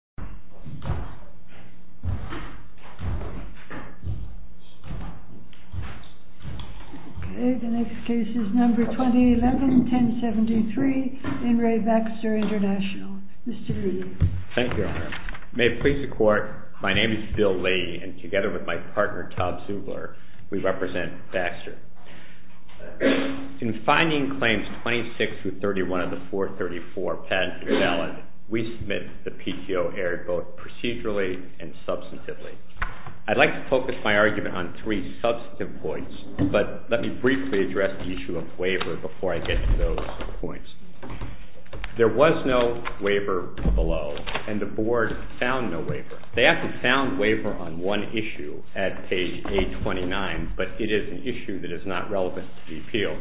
MR. LEE. Thank you, Your Honor. May it please the Court, my name is Bill Lee, and together with my partner, Tom Zubler, we represent BAXTER. In finding Claims 26-31 of the 434 patent invalid, we submit the PTO error both procedurally and substantively. I'd like to focus my argument on three substantive points, but let me briefly address the issue of waiver before I get to those points. There was no waiver below, and the Board found no waiver. They actually found waiver on one issue at page 829, but it is an issue that is not relevant to the appeal.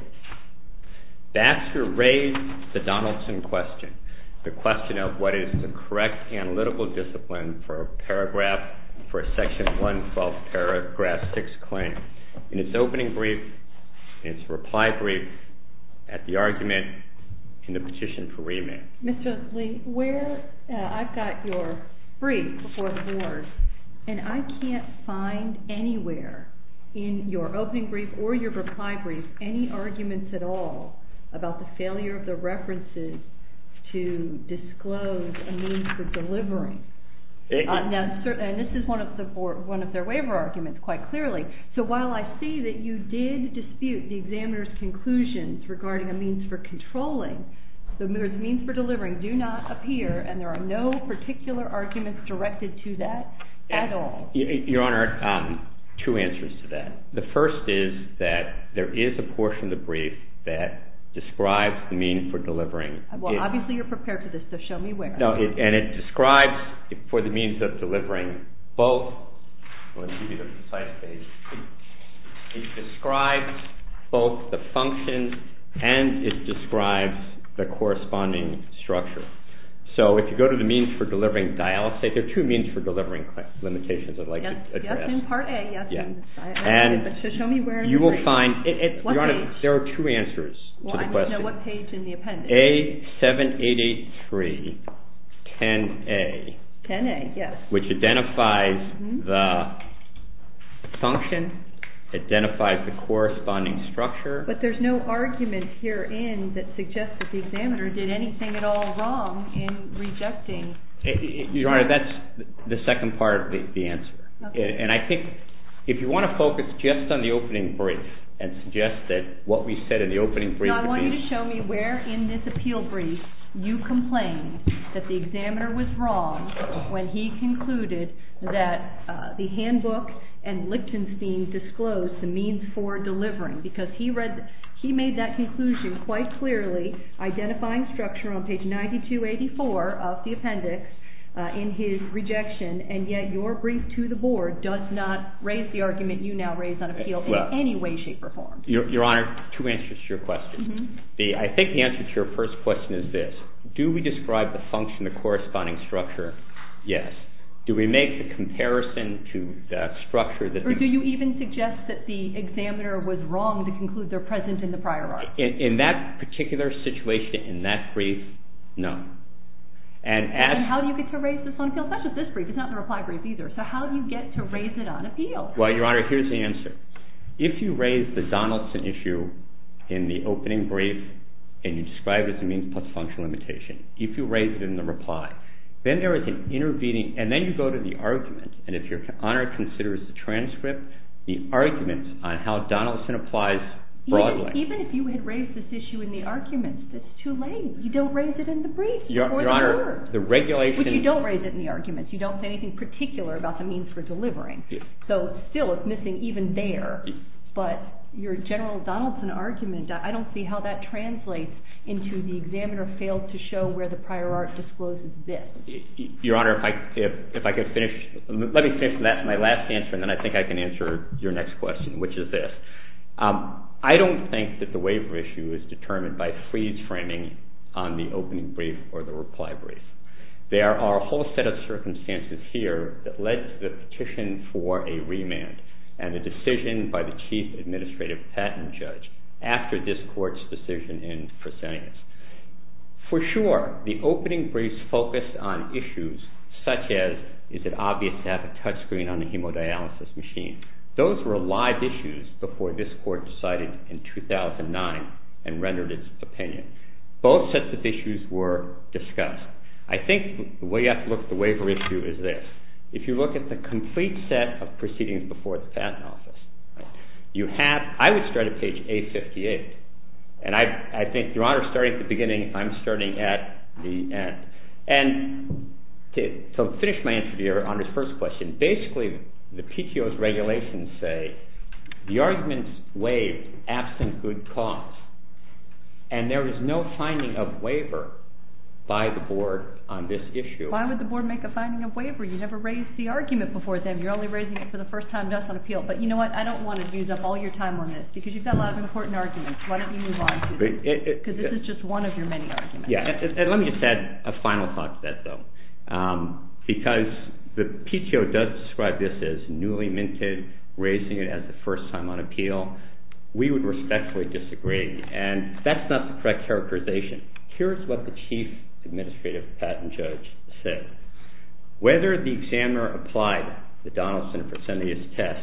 BAXTER raised the Donaldson question, the question of what is the correct analytical discipline for a §112 paragraph 6 claim in its opening brief, its reply brief, at the argument in the petition for remand. MR. LEE. Mr. Lee, I've got your brief before the Board, and I can't find anywhere in your opening brief or your reply brief any arguments at all about the failure of the references to disclose a means for delivering. And this is one of their waiver arguments, quite clearly. So while I see that you did dispute the examiner's conclusions regarding a means for controlling, the means for delivering do not appear, and there are no particular arguments directed to that at all. MR. GOLDSMITH. Your Honor, two answers to that. The first is that there is a portion of the brief that describes the means for delivering. MRS. FISCHER. Well, obviously you're prepared for this, so show me where. MR. GOLDSMITH. No, and it describes for the means of delivering both the functions and it describes the corresponding structure. So if you go to the means for delivering, I'll say there are two means for delivering limitations, I'd like you to address. MRS. FISCHER. Yes, in Part A, yes. So show me where in the brief. MR. GOLDSMITH. Your Honor, there are two answers to the question. MRS. FISCHER. Well, I need to know what page in the appendix. MR. GOLDSMITH. A7883, 10A. MRS. FISCHER. 10A, yes. MR. GOLDSMITH. Which identifies the function, identifies the corresponding structure. MRS. FISCHER. But there's no argument herein that suggests that the examiner did anything at all wrong in rejecting. MR. GOLDSMITH. Your Honor, that's the second part of the answer. MRS. FISCHER. Okay. MR. GOLDSMITH. And I think if you want to focus just on the opening brief and suggest that what we said in the opening brief would be. MRS. FISCHER. No, I want you to show me where in this appeal brief you complained that the examiner was wrong when he concluded that the handbook and Lichtenstein disclosed the means for delivering, because he made that conclusion quite clearly, identifying structure on page 9284 of the appendix in his rejection. And yet your brief to the Board does not raise the argument you now raise on appeal in any way, shape, or form. MR. GOLDSMITH. Your Honor, two answers to your question. I think the answer to your first question is this. Do we describe the function, the corresponding structure? Yes. Do we make the comparison to the structure that. MRS. FISCHER. Or do you even suggest that the examiner was wrong to conclude they're present in the prior article? MR. GOLDSMITH. In that particular situation, in that brief, no. And as. MRS. FISCHER. And how do you get to raise this on appeal, such as this brief? It's not the reply brief either. So how do you get to raise it on appeal? MR. GOLDSMITH. Well, Your Honor, here's the answer. If you raise the Donaldson issue in the opening brief and you describe it as a means plus functional limitation, if you raise it in the reply, then there is an intervening. And then you go to the argument. And if Your Honor considers the transcript, the argument on how Donaldson applies broadly. MRS. FISCHER. Even if you had raised this issue in the arguments, that's too late. You don't raise it in the brief or the word. MR. GOLDSMITH. Your Honor, the regulation. MRS. FISCHER. But you don't raise it in the arguments. You don't say anything particular about the means for delivering. I don't see how that translates into the examiner failed to show where the prior art discloses this. MR. GOLDSMITH. Your Honor, if I could finish. Let me finish my last answer and then I think I can answer your next question, which is this. I don't think that the waiver issue is determined by freeze framing on the opening brief or the reply brief. There are a whole set of circumstances here that led to the petition for a remand. And the decision by the Chief Administrative Patent Judge after this Court's decision in proscenius. For sure, the opening briefs focused on issues such as is it obvious to have a touch screen on the hemodialysis machine. Those were live issues before this Court decided in 2009 and rendered its opinion. Both sets of issues were discussed. I think the way you have to look at the waiver issue is this. If you look at the complete set of proceedings before the patent office, I would start at page 858. And I think, Your Honor, starting at the beginning, I'm starting at the end. And to finish my answer to Your Honor's first question, basically the PTO's regulations say the arguments waived absent good cause. And there is no finding of waiver by the Board on this issue. MS. STEWART-STEINBERG. Why would the Board make a finding of waiver? You never raised the argument before then. You're only raising it for the first time thus on appeal. But you know what? I don't want to use up all your time on this because you've got a lot of important arguments. Why don't you move on? Because this is just one of your many arguments. CHIEF JUSTICE ROBERTS. Yes. And let me just add a final thought to that, though. Because the PTO does describe this as newly minted, raising it as the first time on appeal. We would respectfully disagree. And that's not the correct characterization. Here is what the Chief Administrative Patent Judge said. Whether the examiner applied the Donaldson and Fresenius test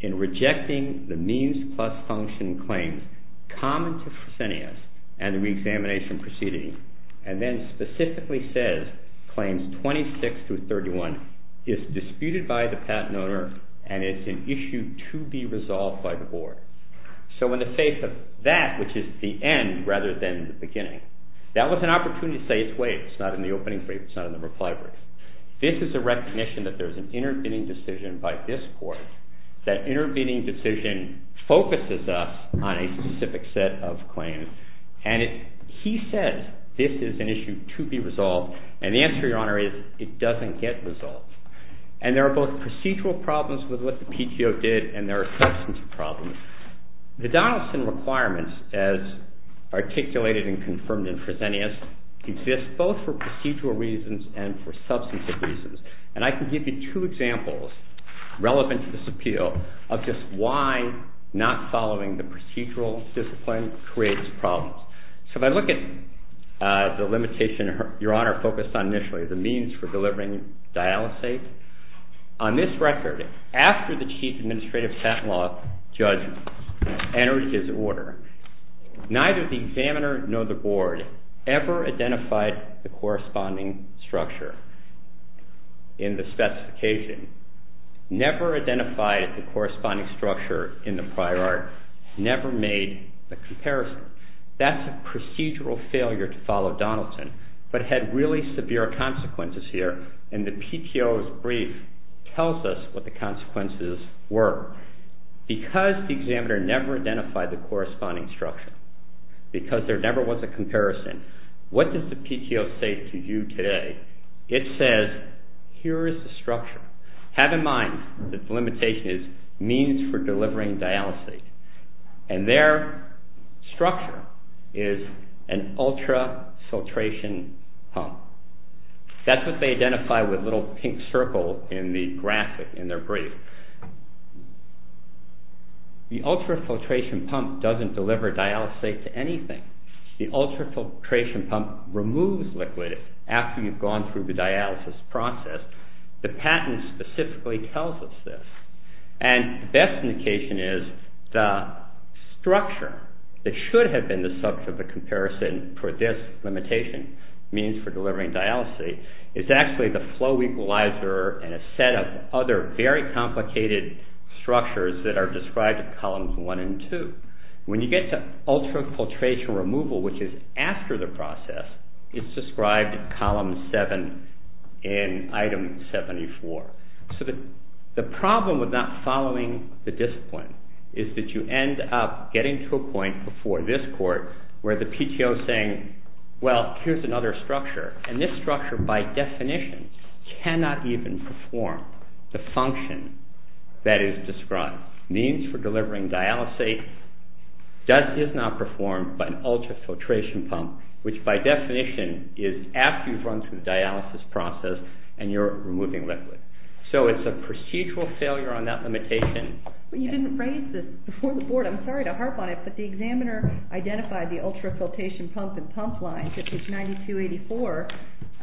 in rejecting the means plus function claims common to Fresenius and the reexamination proceeding, and then specifically says claims 26 through 31, is disputed by the patent owner and is an issue to be resolved by the Board. So in the face of that, which is the end rather than the beginning, that was an opportunity to say it's waived. It's not in the opening brief. It's not in the reply brief. This is a recognition that there's an intervening decision by this Court. That intervening decision focuses us on a specific set of claims. And he said this is an issue to be resolved. And the answer, Your Honor, is it doesn't get resolved. And there are both procedural problems with what the PTO did and there are substance problems. The Donaldson requirements, as articulated and confirmed in Fresenius, exist both for procedural reasons and for substantive reasons. And I can give you two examples relevant to this appeal of just why not following the procedural discipline creates problems. So if I look at the limitation Your Honor focused on initially, the means for delivering dialysate, on this record, after the Chief Administrative Patent Law Judge entered his order, neither the examiner nor the Board ever identified the corresponding structure in the specification, never identified the corresponding structure in the prior art, never made a comparison. That's a procedural failure to follow Donaldson, but had really severe consequences here. And the PTO's brief tells us what the consequences were. Because the examiner never identified the corresponding structure, because there never was a comparison, what does the PTO say to you today? It says here is the structure. Have in mind that the limitation is means for delivering dialysate. And their structure is an ultrafiltration pump. That's what they identify with the little pink circle in the graphic in their brief. The ultrafiltration pump doesn't deliver dialysate to anything. The ultrafiltration pump removes liquid after you've gone through the dialysis process. The patent specifically tells us this. And the best indication is the structure that should have been the subject of the comparison for this limitation, means for delivering dialysis, is actually the flow equalizer and a set of other very complicated structures that are described in columns one and two. When you get to ultrafiltration removal, which is after the process, it's described in column seven in item 74. So the problem with not following the discipline is that you end up getting to a point before this court where the PTO is saying, well, here's another structure. And this structure, by definition, cannot even perform the function that is described. Means for delivering dialysis is not performed by an ultrafiltration pump, which by definition is after you've gone through the dialysis process and you're removing liquid. So it's a procedural failure on that limitation. But you didn't raise this before the board. I'm sorry to harp on it, but the examiner identified the ultrafiltration pump and pump lines, which is 9284,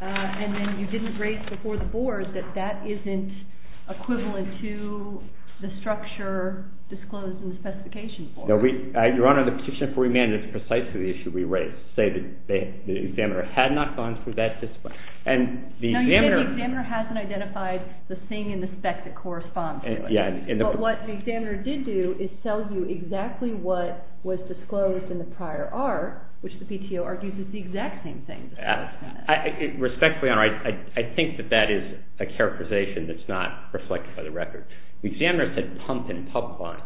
and then you didn't raise before the board that that isn't equivalent to the structure disclosed in the specification form. Your Honor, the petition for remand is precisely the issue we raised, to say that the examiner had not gone through that discipline. And the examiner... No, you said the examiner hasn't identified the thing in the spec that corresponds to it. Yeah. But what the examiner did do is tell you exactly what was disclosed in the prior art, which the PTO argues is the exact same thing. Respectfully, Your Honor, I think that that is a characterization that's not reflected by the record. The examiner said pump and pump lines.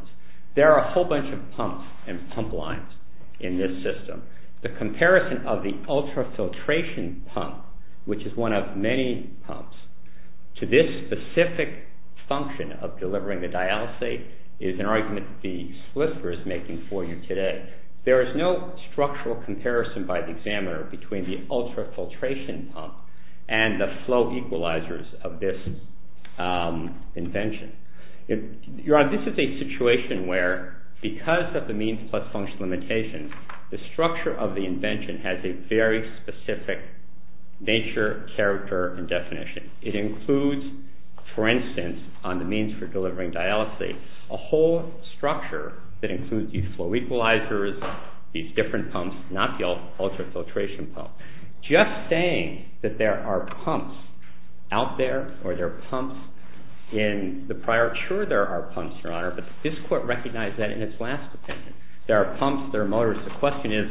There are a whole bunch of pumps and pump lines in this system. The comparison of the ultrafiltration pump, which is one of many pumps, to this specific function of delivering the dialysis is an argument the solicitor is making for you today. There is no structural comparison by the examiner between the ultrafiltration pump and the flow equalizers of this invention. Your Honor, this is a situation where, because of the means plus function limitations, the structure of the invention has a very specific nature, character, and definition. It includes, for instance, on the means for delivering dialysis, a whole structure that includes these flow equalizers, these different pumps, not the ultrafiltration pump. Just saying that there are pumps out there or there are pumps in the prior art, sure there are pumps, Your Honor, but this Court recognized that in its last opinion. There are pumps. There are motors. The question is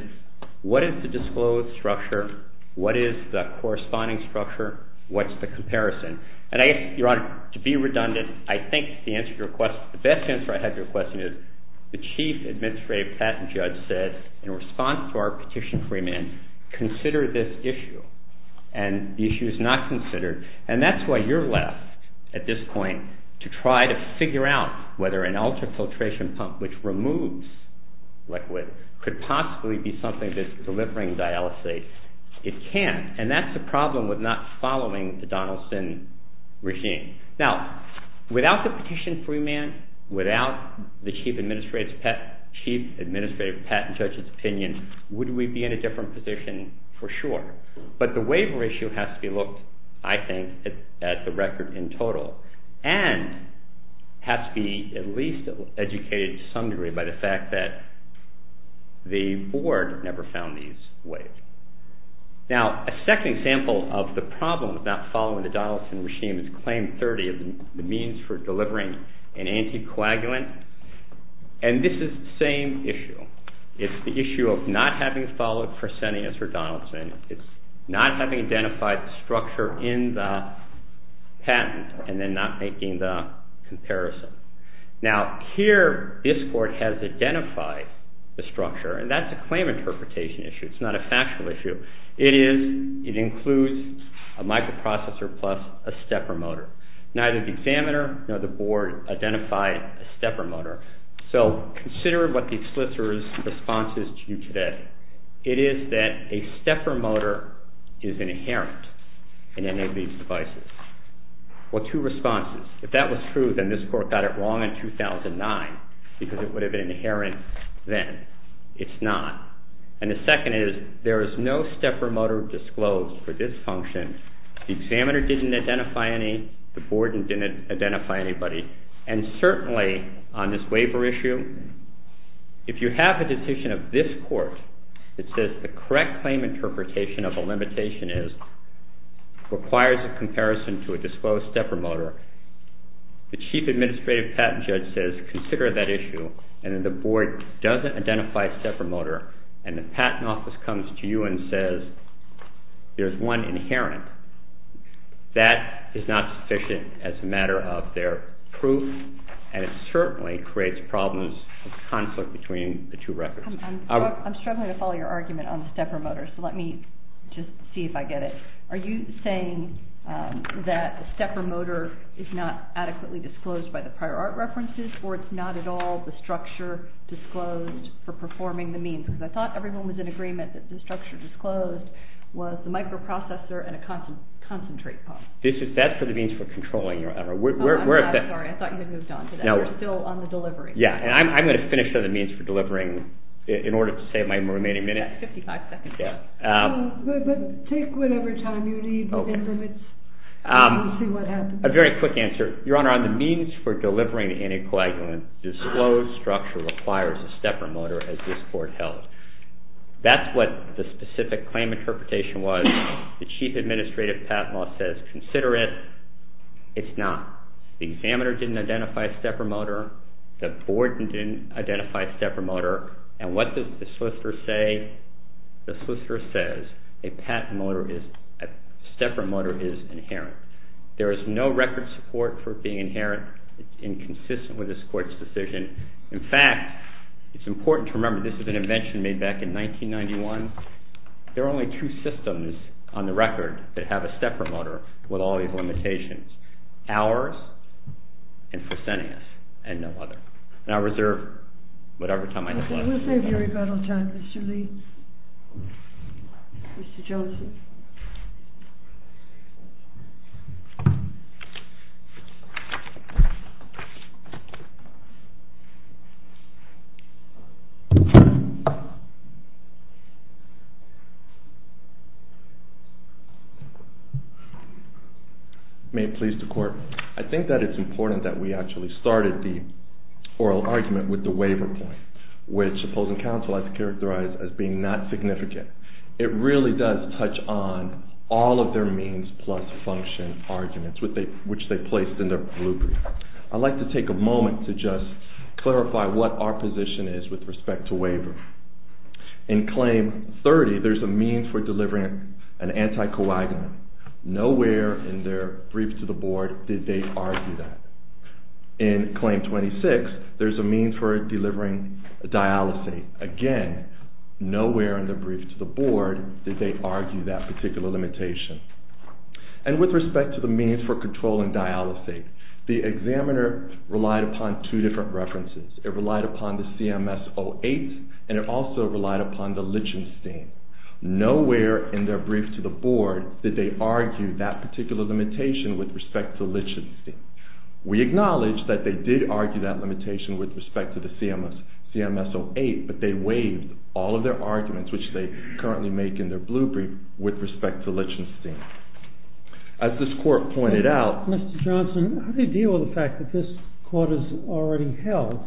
what is the disclosed structure? What is the corresponding structure? What's the comparison? And I guess, Your Honor, to be redundant, I think the answer to your question, the best answer I have to your question is the Chief Administrative Patent Judge said, in response to our petition for remand, consider this issue. And the issue is not considered, and that's why you're left at this point to try to figure out whether an ultrafiltration pump which removes liquid could possibly be something that's delivering dialysis. It can, and that's the problem with not following the Donaldson regime. Now, without the petition for remand, without the Chief Administrative Patent Judge, in his opinion, would we be in a different position for sure? But the waiver issue has to be looked, I think, at the record in total and has to be at least educated to some degree by the fact that the Board never found these waivers. Now, a second example of the problem with not following the Donaldson regime is Claim 30, the means for delivering an anticoagulant. And this is the same issue. It's the issue of not having followed Fresenius or Donaldson. It's not having identified the structure in the patent and then not making the comparison. Now, here, this Court has identified the structure, and that's a claim interpretation issue. It's not a factual issue. It includes a microprocessor plus a stepper motor. Neither the examiner nor the Board identified a stepper motor. So consider what the solicitor's response is to you today. It is that a stepper motor is inherent in any of these devices. Well, two responses. If that was true, then this Court got it wrong in 2009 because it would have been inherent then. It's not. And the second is there is no stepper motor disclosed for this function. The examiner didn't identify any. The Board didn't identify anybody. And certainly on this waiver issue, if you have a decision of this Court that says the correct claim interpretation of a limitation is requires a comparison to a disclosed stepper motor, the Chief Administrative Patent Judge says consider that issue, and then the Board doesn't identify a stepper motor, and the Patent Office comes to you and says there's one inherent. That is not sufficient as a matter of their proof, and it certainly creates problems of conflict between the two records. I'm struggling to follow your argument on the stepper motor, so let me just see if I get it. Are you saying that the stepper motor is not adequately disclosed by the prior art references, or it's not at all the structure disclosed for performing the means? I thought everyone was in agreement that the structure disclosed was the microprocessor and a concentrate pump. That's for the means for controlling, Your Honor. I'm sorry, I thought you had moved on to that. We're still on the delivery. I'm going to finish on the means for delivering in order to save my remaining minute. That's 55 seconds left. Take whatever time you need within limits. I want to see what happens. A very quick answer. Your Honor, on the means for delivering anticoagulant, the disclosed structure requires a stepper motor, as this Court held. That's what the specific claim interpretation was. The Chief Administrative Patent Law says consider it. It's not. The examiner didn't identify a stepper motor. The board didn't identify a stepper motor. And what does the solicitor say? The solicitor says a stepper motor is inherent. There is no record support for it being inherent. It's inconsistent with this Court's decision. In fact, it's important to remember this was an invention made back in 1991. There are only two systems on the record that have a stepper motor with all these limitations. Ours and Fresenius and no other. And I reserve whatever time I have left. We'll save your rebuttal time, Mr. Lee. Mr. Joseph. May it please the Court. I think that it's important that we actually started the oral argument with the waiver point, which opposing counsel has characterized as being not significant. It really does touch on all of their means plus function arguments, which they placed in their blue brief. I'd like to take a moment to just clarify what our position is with respect to waiver. In Claim 30, there's a means for delivering an anticoagulant. Nowhere in their brief to the board did they argue that. In Claim 26, there's a means for delivering a dialysate. Again, nowhere in their brief to the board did they argue that particular limitation. And with respect to the means for controlling dialysate, the examiner relied upon two different references. It relied upon the CMS-08, and it also relied upon the Lichtenstein. Nowhere in their brief to the board did they argue that particular limitation with respect to Lichtenstein. We acknowledge that they did argue that limitation with respect to the CMS-08, but they waived all of their arguments, which they currently make in their blue brief, with respect to Lichtenstein. As this Court pointed out... Mr. Johnson, how do you deal with the fact that this Court has already held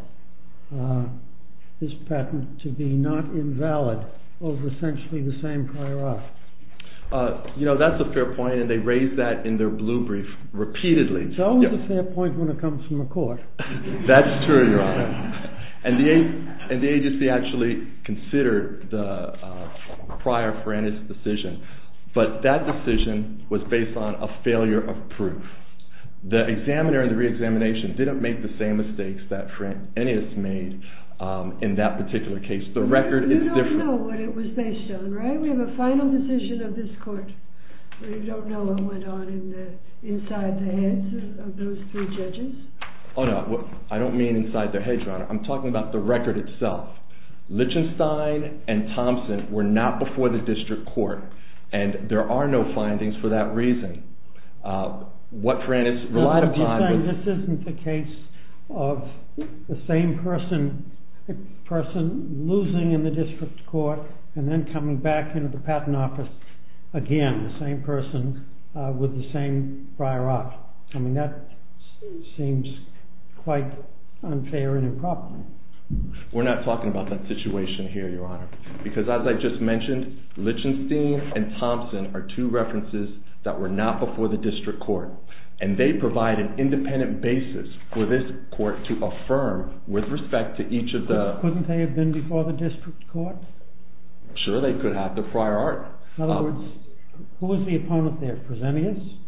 this patent to be not invalid over essentially the same prior art? You know, that's a fair point, and they raised that in their blue brief repeatedly. It's always a fair point when it comes from the Court. That's true, Your Honor. And the agency actually considered the prior Ferenius decision, but that decision was based on a failure of proof. The examiner in the reexamination didn't make the same mistakes that Ferenius made in that particular case. The record is different. You don't know what it was based on, right? Do you think we have a final decision of this Court where you don't know what went on inside the heads of those three judges? Oh, no. I don't mean inside their heads, Your Honor. I'm talking about the record itself. Lichtenstein and Thompson were not before the district court, and there are no findings for that reason. What Ferenius relied upon... Again, the same person with the same prior art. I mean, that seems quite unfair and improper. We're not talking about that situation here, Your Honor. Because as I just mentioned, Lichtenstein and Thompson are two references that were not before the district court, and they provide an independent basis for this Court to affirm with respect to each of the... Couldn't they have been before the district court? Sure, they could have, the prior art. In other words, who was the opponent there? Fresenius?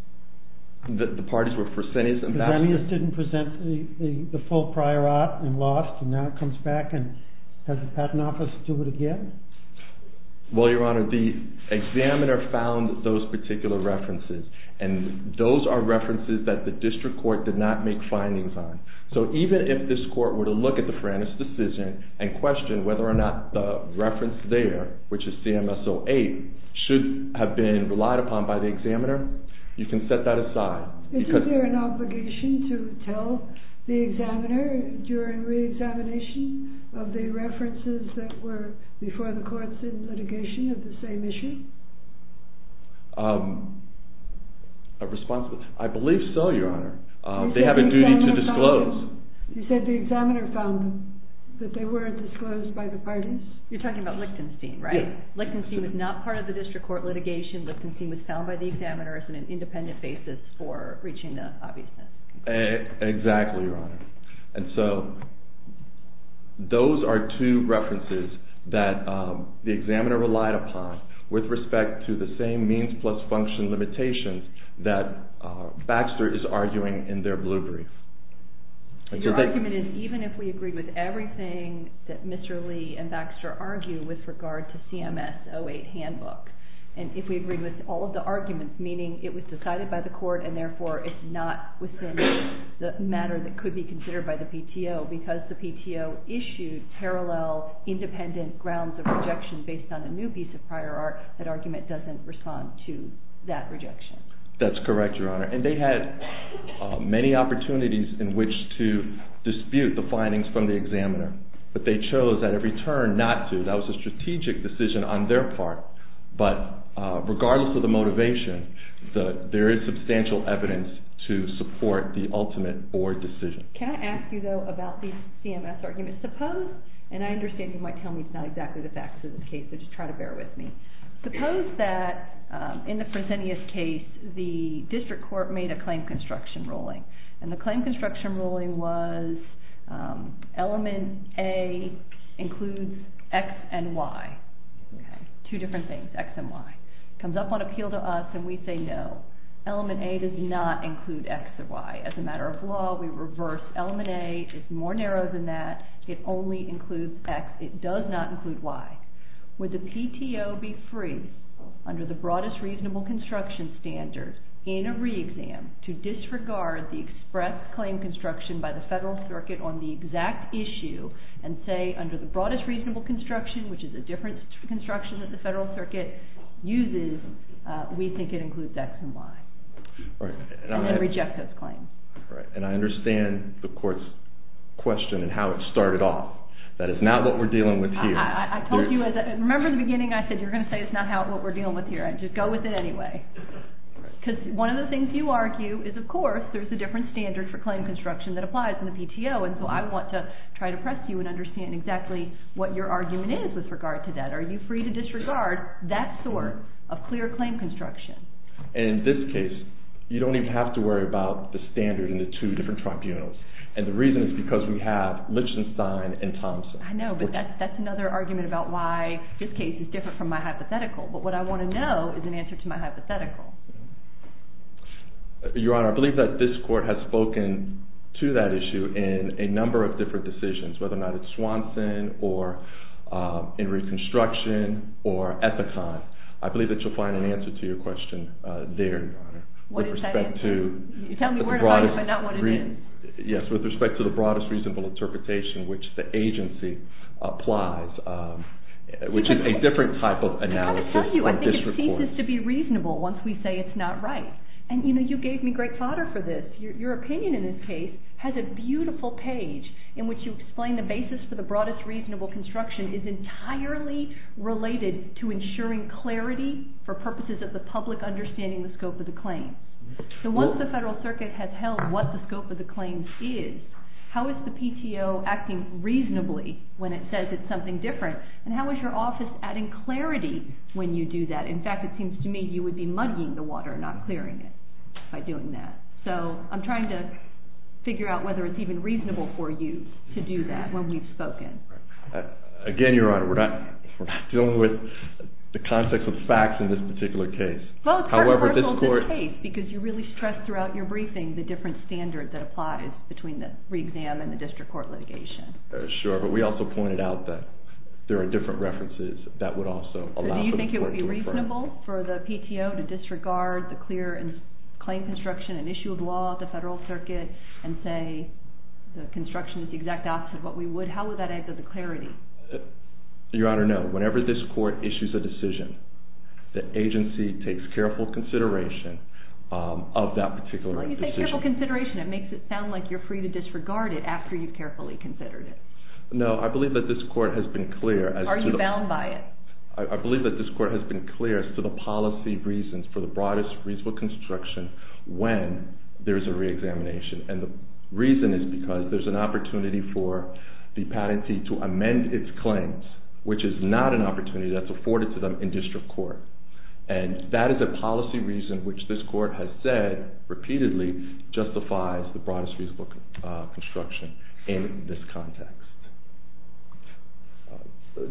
The parties were Fresenius and... Fresenius didn't present the full prior art and lost, and now it comes back, and has the Patent Office do it again? Well, Your Honor, the examiner found those particular references, and those are references that the district court did not make findings on. So even if this Court were to look at the Ferenius decision and question whether or not the reference there, which is CMS 08, should have been relied upon by the examiner, you can set that aside. Isn't there an obligation to tell the examiner during re-examination of the references that were before the courts in litigation of the same issue? I believe so, Your Honor. They have a duty to disclose. You said the examiner found them, but they weren't disclosed by the parties? You're talking about Lichtenstein, right? Lichtenstein was not part of the district court litigation. Lichtenstein was found by the examiners on an independent basis for reaching the obviousness. Exactly, Your Honor. And so those are two references that the examiner relied upon with respect to the same means plus function limitations that Baxter is arguing in their blue brief. Your argument is even if we agree with everything that Mr. Lee and Baxter argue with regard to CMS 08 handbook, and if we agree with all of the arguments, meaning it was decided by the court and therefore it's not within the matter that could be considered by the PTO because the PTO issued parallel independent grounds of rejection based on the new piece of prior art, that argument doesn't respond to that rejection. That's correct, Your Honor. And they had many opportunities in which to dispute the findings from the examiner, but they chose at every turn not to. That was a strategic decision on their part, but regardless of the motivation, there is substantial evidence to support the ultimate board decision. Can I ask you, though, about the CMS argument? Suppose, and I understand you might tell me it's not exactly the facts of this case, but just try to bear with me. Suppose that in the Fresenius case, the district court made a claim construction ruling, and the claim construction ruling was element A includes X and Y. Two different things, X and Y. It comes up on appeal to us, and we say no. Element A does not include X or Y. As a matter of law, we reverse element A. It's more narrow than that. It only includes X. It does not include Y. Would the PTO be free under the broadest reasonable construction standard in a re-exam to disregard the express claim construction by the federal circuit on the exact issue and say under the broadest reasonable construction, which is a different construction that the federal circuit uses, we think it includes X and Y, and then reject those claims. Right, and I understand the court's question and how it started off. That is not what we're dealing with here. I told you, remember in the beginning I said you're going to say it's not what we're dealing with here. Just go with it anyway, because one of the things you argue is, of course, there's a different standard for claim construction that applies in the PTO, and so I want to try to press you and understand exactly what your argument is with regard to that. Are you free to disregard that sort of clear claim construction? In this case, you don't even have to worry about the standard in the two different tribunals, and the reason is because we have Lichtenstein and Thompson. I know, but that's another argument about why this case is different from my hypothetical, but what I want to know is an answer to my hypothetical. Your Honor, I believe that this court has spoken to that issue in a number of different decisions, whether or not it's Swanson or in reconstruction or Ethicon. I believe that you'll find an answer to your question there, Your Honor. What is that answer? Tell me where it is, but not what it is. Yes, with respect to the broadest reasonable interpretation which the agency applies, which is a different type of analysis from this report. It ceases to be reasonable once we say it's not right, and you gave me great fodder for this. Your opinion in this case has a beautiful page in which you explain the basis for the broadest reasonable construction is entirely related to ensuring clarity for purposes of the public understanding the scope of the claim. So once the Federal Circuit has held what the scope of the claim is, how is the PTO acting reasonably when it says it's something different, and how is your office adding clarity when you do that? In fact, it seems to me you would be muddying the water, not clearing it by doing that. So I'm trying to figure out whether it's even reasonable for you to do that when we've spoken. Again, Your Honor, we're not dealing with the context of facts in this particular case. Well, it's controversial in this case because you really stress throughout your briefing the different standard that applies between the re-exam and the district court litigation. Sure, but we also pointed out that there are different references that would also allow for the court to infer. So do you think it would be reasonable for the PTO to disregard the clear claim construction and issue of law at the Federal Circuit and say the construction is the exact opposite of what we would? How would that add to the clarity? Your Honor, no. Whenever this court issues a decision, the agency takes careful consideration of that particular decision. When you say careful consideration, it makes it sound like you're free to disregard it after you've carefully considered it. No, I believe that this court has been clear. Are you bound by it? I believe that this court has been clear as to the policy reasons for the broadest reasonable construction when there is a re-examination. And the reason is because there's an opportunity for the patentee to amend its claims, which is not an opportunity that's afforded to them in district court. And that is a policy reason, which this court has said repeatedly, justifies the broadest reasonable construction in this context.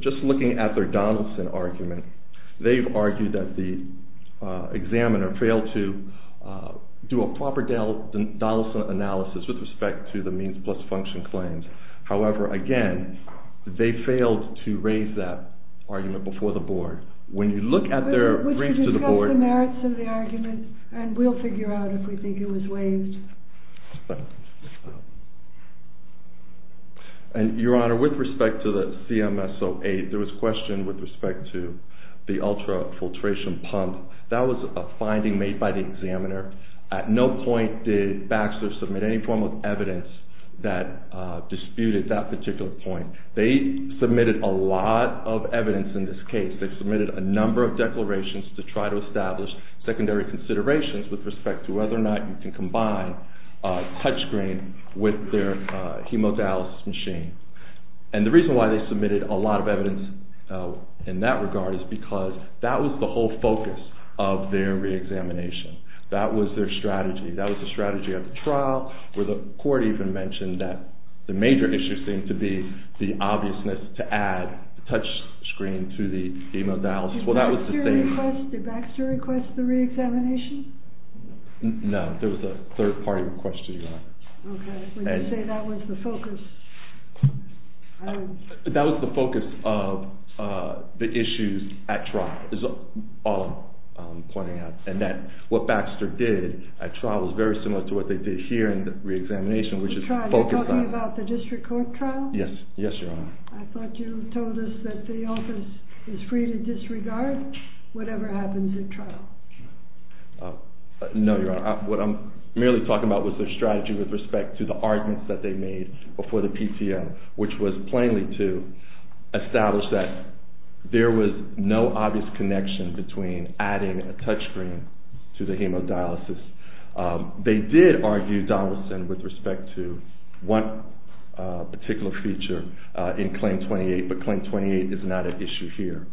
Just looking at their Donaldson argument, they've argued that the examiner failed to do a proper Donaldson analysis with respect to the means plus function claims. However, again, they failed to raise that argument before the board. When you look at their briefs to the board... We should discuss the merits of the argument, and we'll figure out if we think it was waived. Your Honor, with respect to the CMS 08, there was a question with respect to the ultra-filtration pump. That was a finding made by the examiner. At no point did Baxter submit any form of evidence that disputed that particular point. They submitted a lot of evidence in this case. They submitted a number of declarations to try to establish secondary considerations with respect to whether or not you can combine a touchscreen with their hemodialysis machine. And the reason why they submitted a lot of evidence in that regard is because that was the whole focus of their re-examination. That was their strategy. That was the strategy of the trial, where the court even mentioned that the major issue seemed to be the obviousness to add the touchscreen to the hemodialysis. Did Baxter request the re-examination? No. There was a third-party request to do that. Okay. Would you say that was the focus? That was the focus of the issues at trial, is all I'm pointing out. And what Baxter did at trial was very similar to what they did here in the re-examination, which is focused on... You're talking about the district court trial? Yes. Yes, Your Honor. I thought you told us that the office is free to disregard whatever happens at trial. No, Your Honor. What I'm merely talking about was their strategy with respect to the arguments that they made before the PTO, which was plainly to establish that there was no obvious connection between adding a touchscreen to the hemodialysis. They did argue Donaldson with respect to one particular feature in Claim 28, but Claim 28 is not an issue here.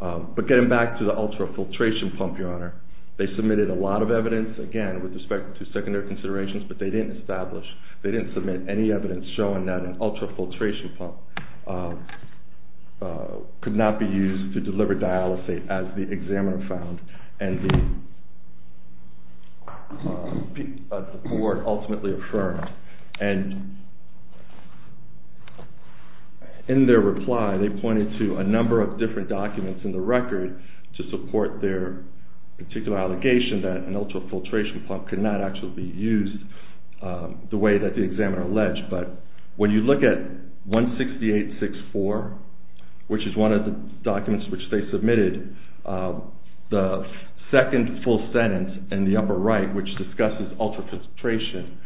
But getting back to the ultrafiltration pump, Your Honor, they submitted a lot of evidence, again, with respect to secondary considerations, but they didn't establish, they didn't submit any evidence showing that an ultrafiltration pump could not be used to deliver dialysate, as the examiner found and the court ultimately affirmed. And in their reply, they pointed to a number of different documents in the record to support their particular allegation that an ultrafiltration pump could not actually be used the way that the examiner alleged. But when you look at 168-64, which is one of the documents which they submitted, the second full sentence in the upper right, which discusses ultrafiltration,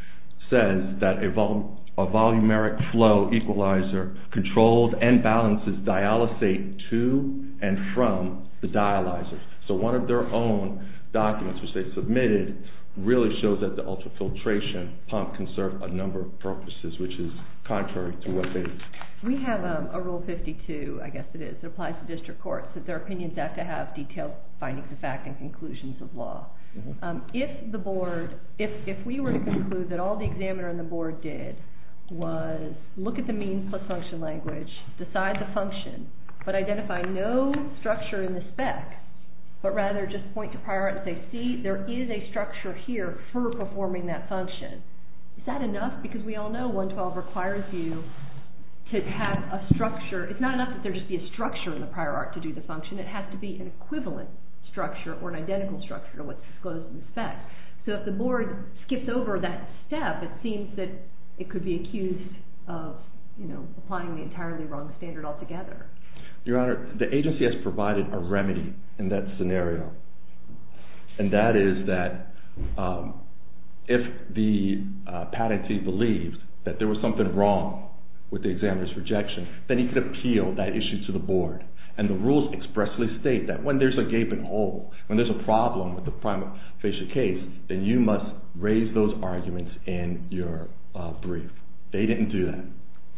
says that a volumeric flow equalizer controls and balances dialysate to and from the dialyzer. So one of their own documents, which they submitted, really shows that the ultrafiltration pump can serve a number of purposes, which is contrary to what they did. We have a Rule 52, I guess it is, that applies to district courts, that their opinions have to have detailed findings of fact and conclusions of law. If we were to conclude that all the examiner and the board did was look at the means plus function language, decide the function, but identify no structure in the spec, but rather just point to prior art and say, see, there is a structure here for performing that function. Is that enough? Because we all know 112 requires you to have a structure. It's not enough that there just be a structure in the prior art to do the function. It has to be an equivalent structure or an identical structure to what's disclosed in the spec. So if the board skips over that step, it seems that it could be accused of applying the entirely wrong standard altogether. Your Honor, the agency has provided a remedy in that scenario, and that is that if the patentee believed that there was something wrong with the examiner's rejection, then he could appeal that issue to the board. And the rules expressly state that when there's a gaping hole, when there's a problem with the prima facie case, then you must raise those arguments in your brief. They didn't do that.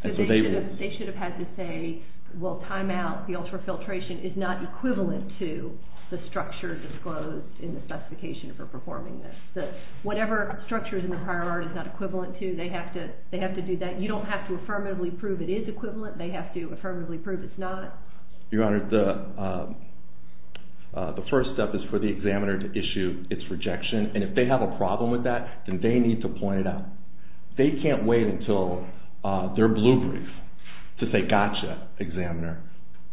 They should have had to say, well, time out, the ultra-filtration is not equivalent to the structure disclosed in the specification for performing this. Whatever structure is in the prior art is not equivalent to. They have to do that. You don't have to affirmatively prove it is equivalent. They have to affirmatively prove it's not. Your Honor, the first step is for the examiner to issue its rejection. And if they have a problem with that, then they need to point it out. They can't wait until their blue brief to say, gotcha, examiner.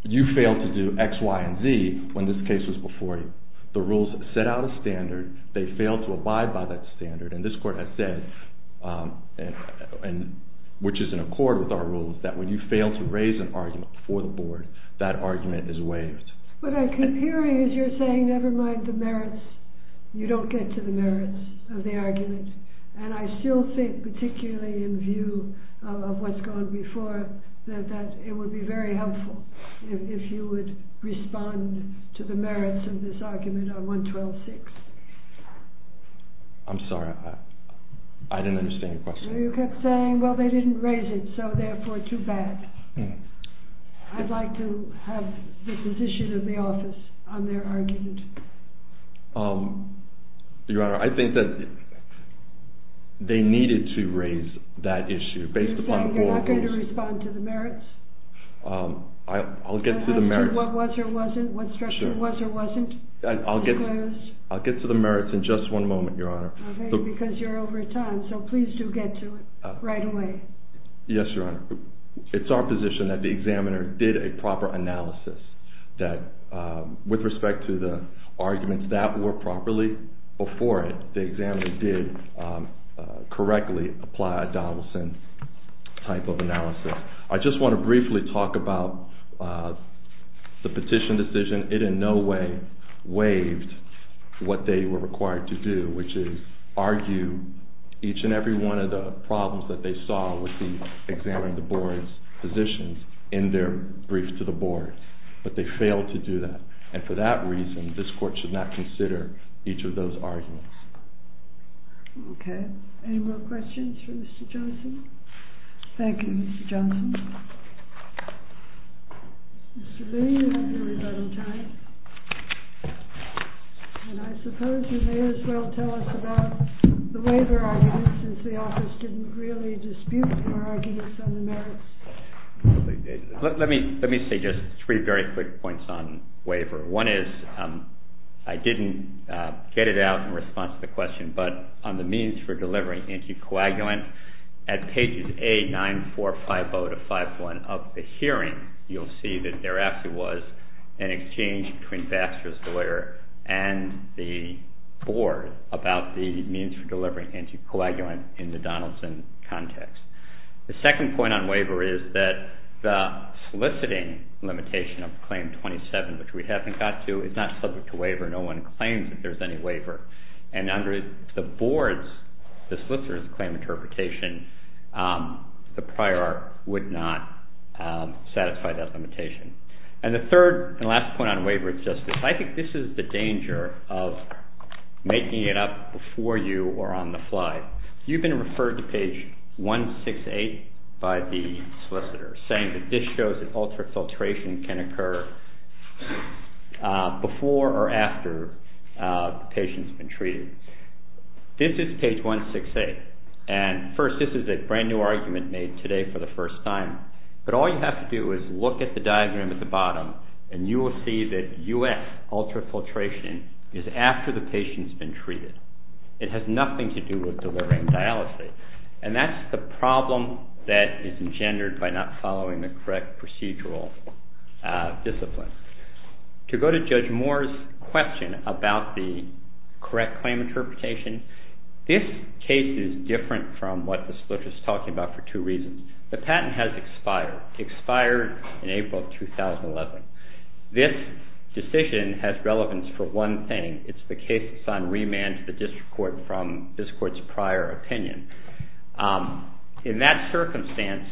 You failed to do X, Y, and Z when this case was before you. The rules set out a standard. They failed to abide by that standard. And this Court has said, which is in accord with our rules, that when you fail to raise an argument before the Board, that argument is waived. What I keep hearing is you're saying never mind the merits. You don't get to the merits of the argument. And I still think, particularly in view of what's gone before, that it would be very helpful if you would respond to the merits of this argument on 112-6. I'm sorry. I didn't understand your question. You kept saying, well, they didn't raise it, so therefore too bad. I'd like to have the position of the office on their argument. Your Honor, I think that they needed to raise that issue based upon all the rules. You're saying you're not going to respond to the merits? I'll get to the merits. What was or wasn't? What structure was or wasn't? I'll get to the merits in just one moment, Your Honor. Okay, because you're over time, so please do get to it right away. Yes, Your Honor. It's our position that the examiner did a proper analysis that with respect to the arguments that were properly before it, the examiner did correctly apply a Donaldson type of analysis. I just want to briefly talk about the petition decision. It in no way waived what they were required to do, which is argue each and every one of the problems that they saw with examining the board's positions in their brief to the board, but they failed to do that. For that reason, this court should not consider each of those arguments. Okay. Any more questions for Mr. Johnson? Thank you, Mr. Johnson. Mr. Boone, you have your rebuttal time, and I suppose you may as well tell us about the waiver arguments since the office didn't really dispute your arguments on the merits. Let me say just three very quick points on waiver. One is I didn't get it out in response to the question, but on the means for delivering anticoagulant, at pages A, 9, 4, 5, 0 to 5, 1 of the hearing, you'll see that there actually was an exchange between Baxter's lawyer and the board about the means for delivering anticoagulant in the Donaldson context. The second point on waiver is that the soliciting limitation of Claim 27, which we haven't got to, is not subject to waiver. No one claims that there's any waiver, and under the board's, the solicitor's claim interpretation, the prior would not satisfy that limitation. And the third and last point on waiver is just this. I think this is the danger of making it up before you or on the fly. You've been referred to page 168 by the solicitor, saying that this shows that altered filtration can occur before or after the patient's been treated. This is page 168, and first, this is a brand new argument made today for the first time, but all you have to do is look at the diagram at the bottom, and you will see that U.S. altered filtration is after the patient's been treated. It has nothing to do with delivering dialysis, and that's the problem that is engendered by not following the correct procedural discipline. To go to Judge Moore's question about the correct claim interpretation, this case is different from what the solicitor is talking about for two reasons. The patent has expired, expired in April of 2011. This decision has relevance for one thing. It's the case that's on remand to the district court from this court's prior opinion. In that circumstance,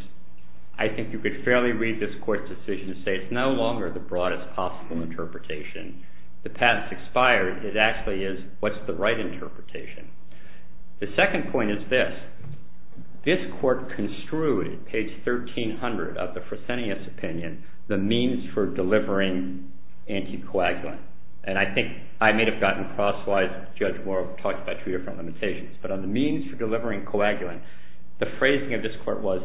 I think you could fairly read this court's decision and say it's no longer the broadest possible interpretation. The patent's expired. It actually is what's the right interpretation. The second point is this. This court construed, page 1300 of the Fresenius opinion, the means for delivering anticoagulant, and I think I may have gotten crosswise. Judge Moore talked about two different limitations, but on the means for delivering coagulant, the phrasing of this court was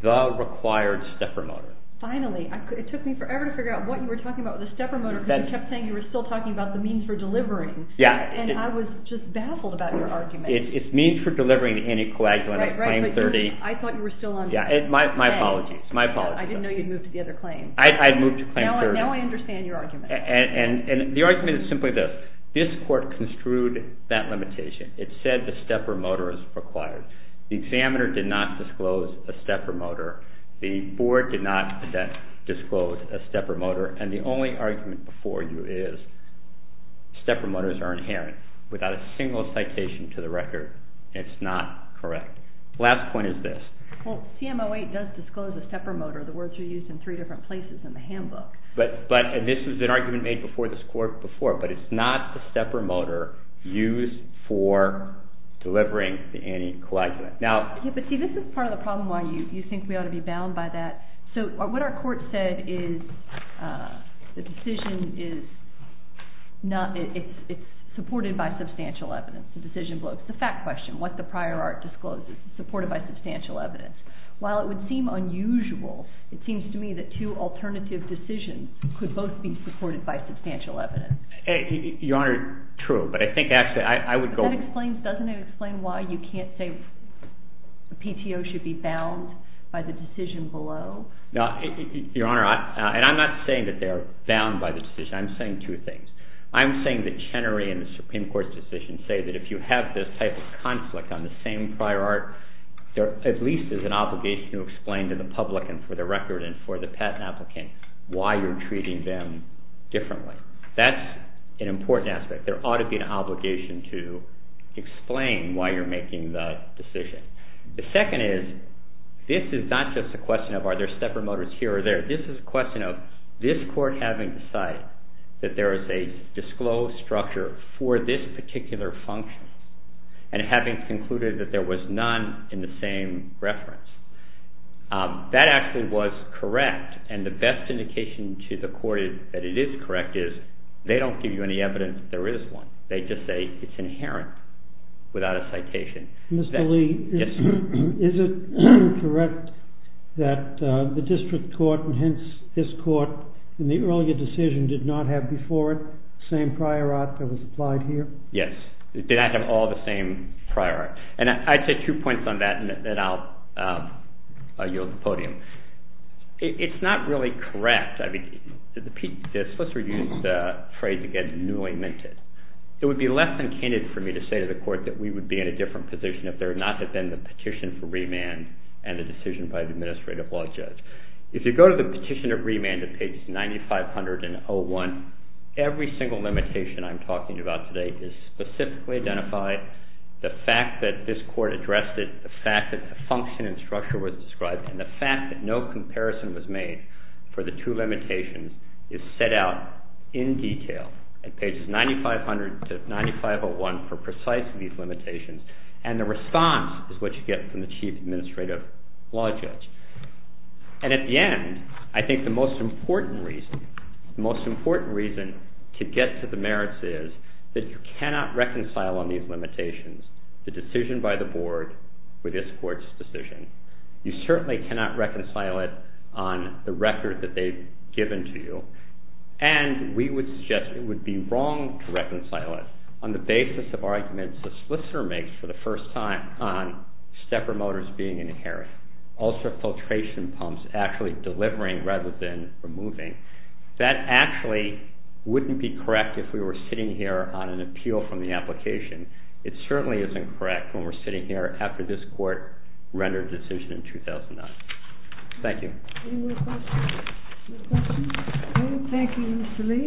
the required stepper motor. Finally, it took me forever to figure out what you were talking about with the stepper motor because you kept saying you were still talking about the means for delivering, and I was just baffled about your argument. It's means for delivering the anticoagulant of Claim 30. I thought you were still on remand. My apologies. I didn't know you'd moved to the other claim. I'd moved to Claim 30. Now I understand your argument. The argument is simply this. This court construed that limitation. It said the stepper motor is required. The examiner did not disclose a stepper motor. The board did not disclose a stepper motor, and the only argument before you is stepper motors are inherent. Without a single citation to the record, it's not correct. The last point is this. Well, CMO 8 does disclose a stepper motor. The words are used in three different places in the handbook. But this was an argument made before this court before, but it's not the stepper motor used for delivering the anticoagulant. But see, this is part of the problem why you think we ought to be bound by that. So what our court said is the decision is supported by substantial evidence. It's a decision bloke. It's a fact question. What the prior art discloses. It's supported by substantial evidence. While it would seem unusual, it seems to me that two alternative decisions could both be supported by substantial evidence. Your Honor, true. But I think actually I would go. Doesn't it explain why you can't say a PTO should be bound by the decision below? Your Honor, and I'm not saying that they are bound by the decision. I'm saying two things. I'm saying that Chenery and the Supreme Court's decision say that if you have this type of conflict on the same prior art, there at least is an obligation to explain to the public and for the record and for the patent applicant why you're treating them differently. That's an important aspect. There ought to be an obligation to explain why you're making the decision. The second is this is not just a question of are there stepper motors here or there. This is a question of this court having decided that there is a disclosed structure for this particular function and having concluded that there was none in the same reference. That actually was correct, and the best indication to the court that it is correct is they don't give you any evidence that there is one. They just say it's inherent without a citation. Mr. Lee, is it correct that the district court and hence this court in the earlier decision did not have before it the same prior art that was applied here? Yes. It did not have all the same prior art. And I'd say two points on that, and then I'll yield the podium. It's not really correct. The solicitor used the phrase again, newly minted. It would be less than candid for me to say to the court that we would be in a different position if there had not been the petition for remand and the decision by the administrative law judge. If you go to the petition of remand at pages 9500 and 01, every single limitation I'm talking about today is specifically identified. The fact that this court addressed it, the fact that the function and structure was described, and the fact that no comparison was made for the two limitations is set out in detail at pages 9500 to 9501 for precisely these limitations. And the response is what you get from the chief administrative law judge. And at the end, I think the most important reason to get to the merits is that you cannot reconcile on these limitations the decision by the board with this court's decision. You certainly cannot reconcile it on the record that they've given to you. And we would suggest it would be wrong to reconcile it on the basis of arguments the solicitor makes for the first time on stepper motors being inherent, ultra-filtration pumps actually delivering rather than removing. That actually wouldn't be correct if we were sitting here on an appeal from the application. It certainly isn't correct when we're sitting here after this court rendered a decision in 2009. Thank you. Any more questions? No questions? Okay, thank you, Mr. Lee.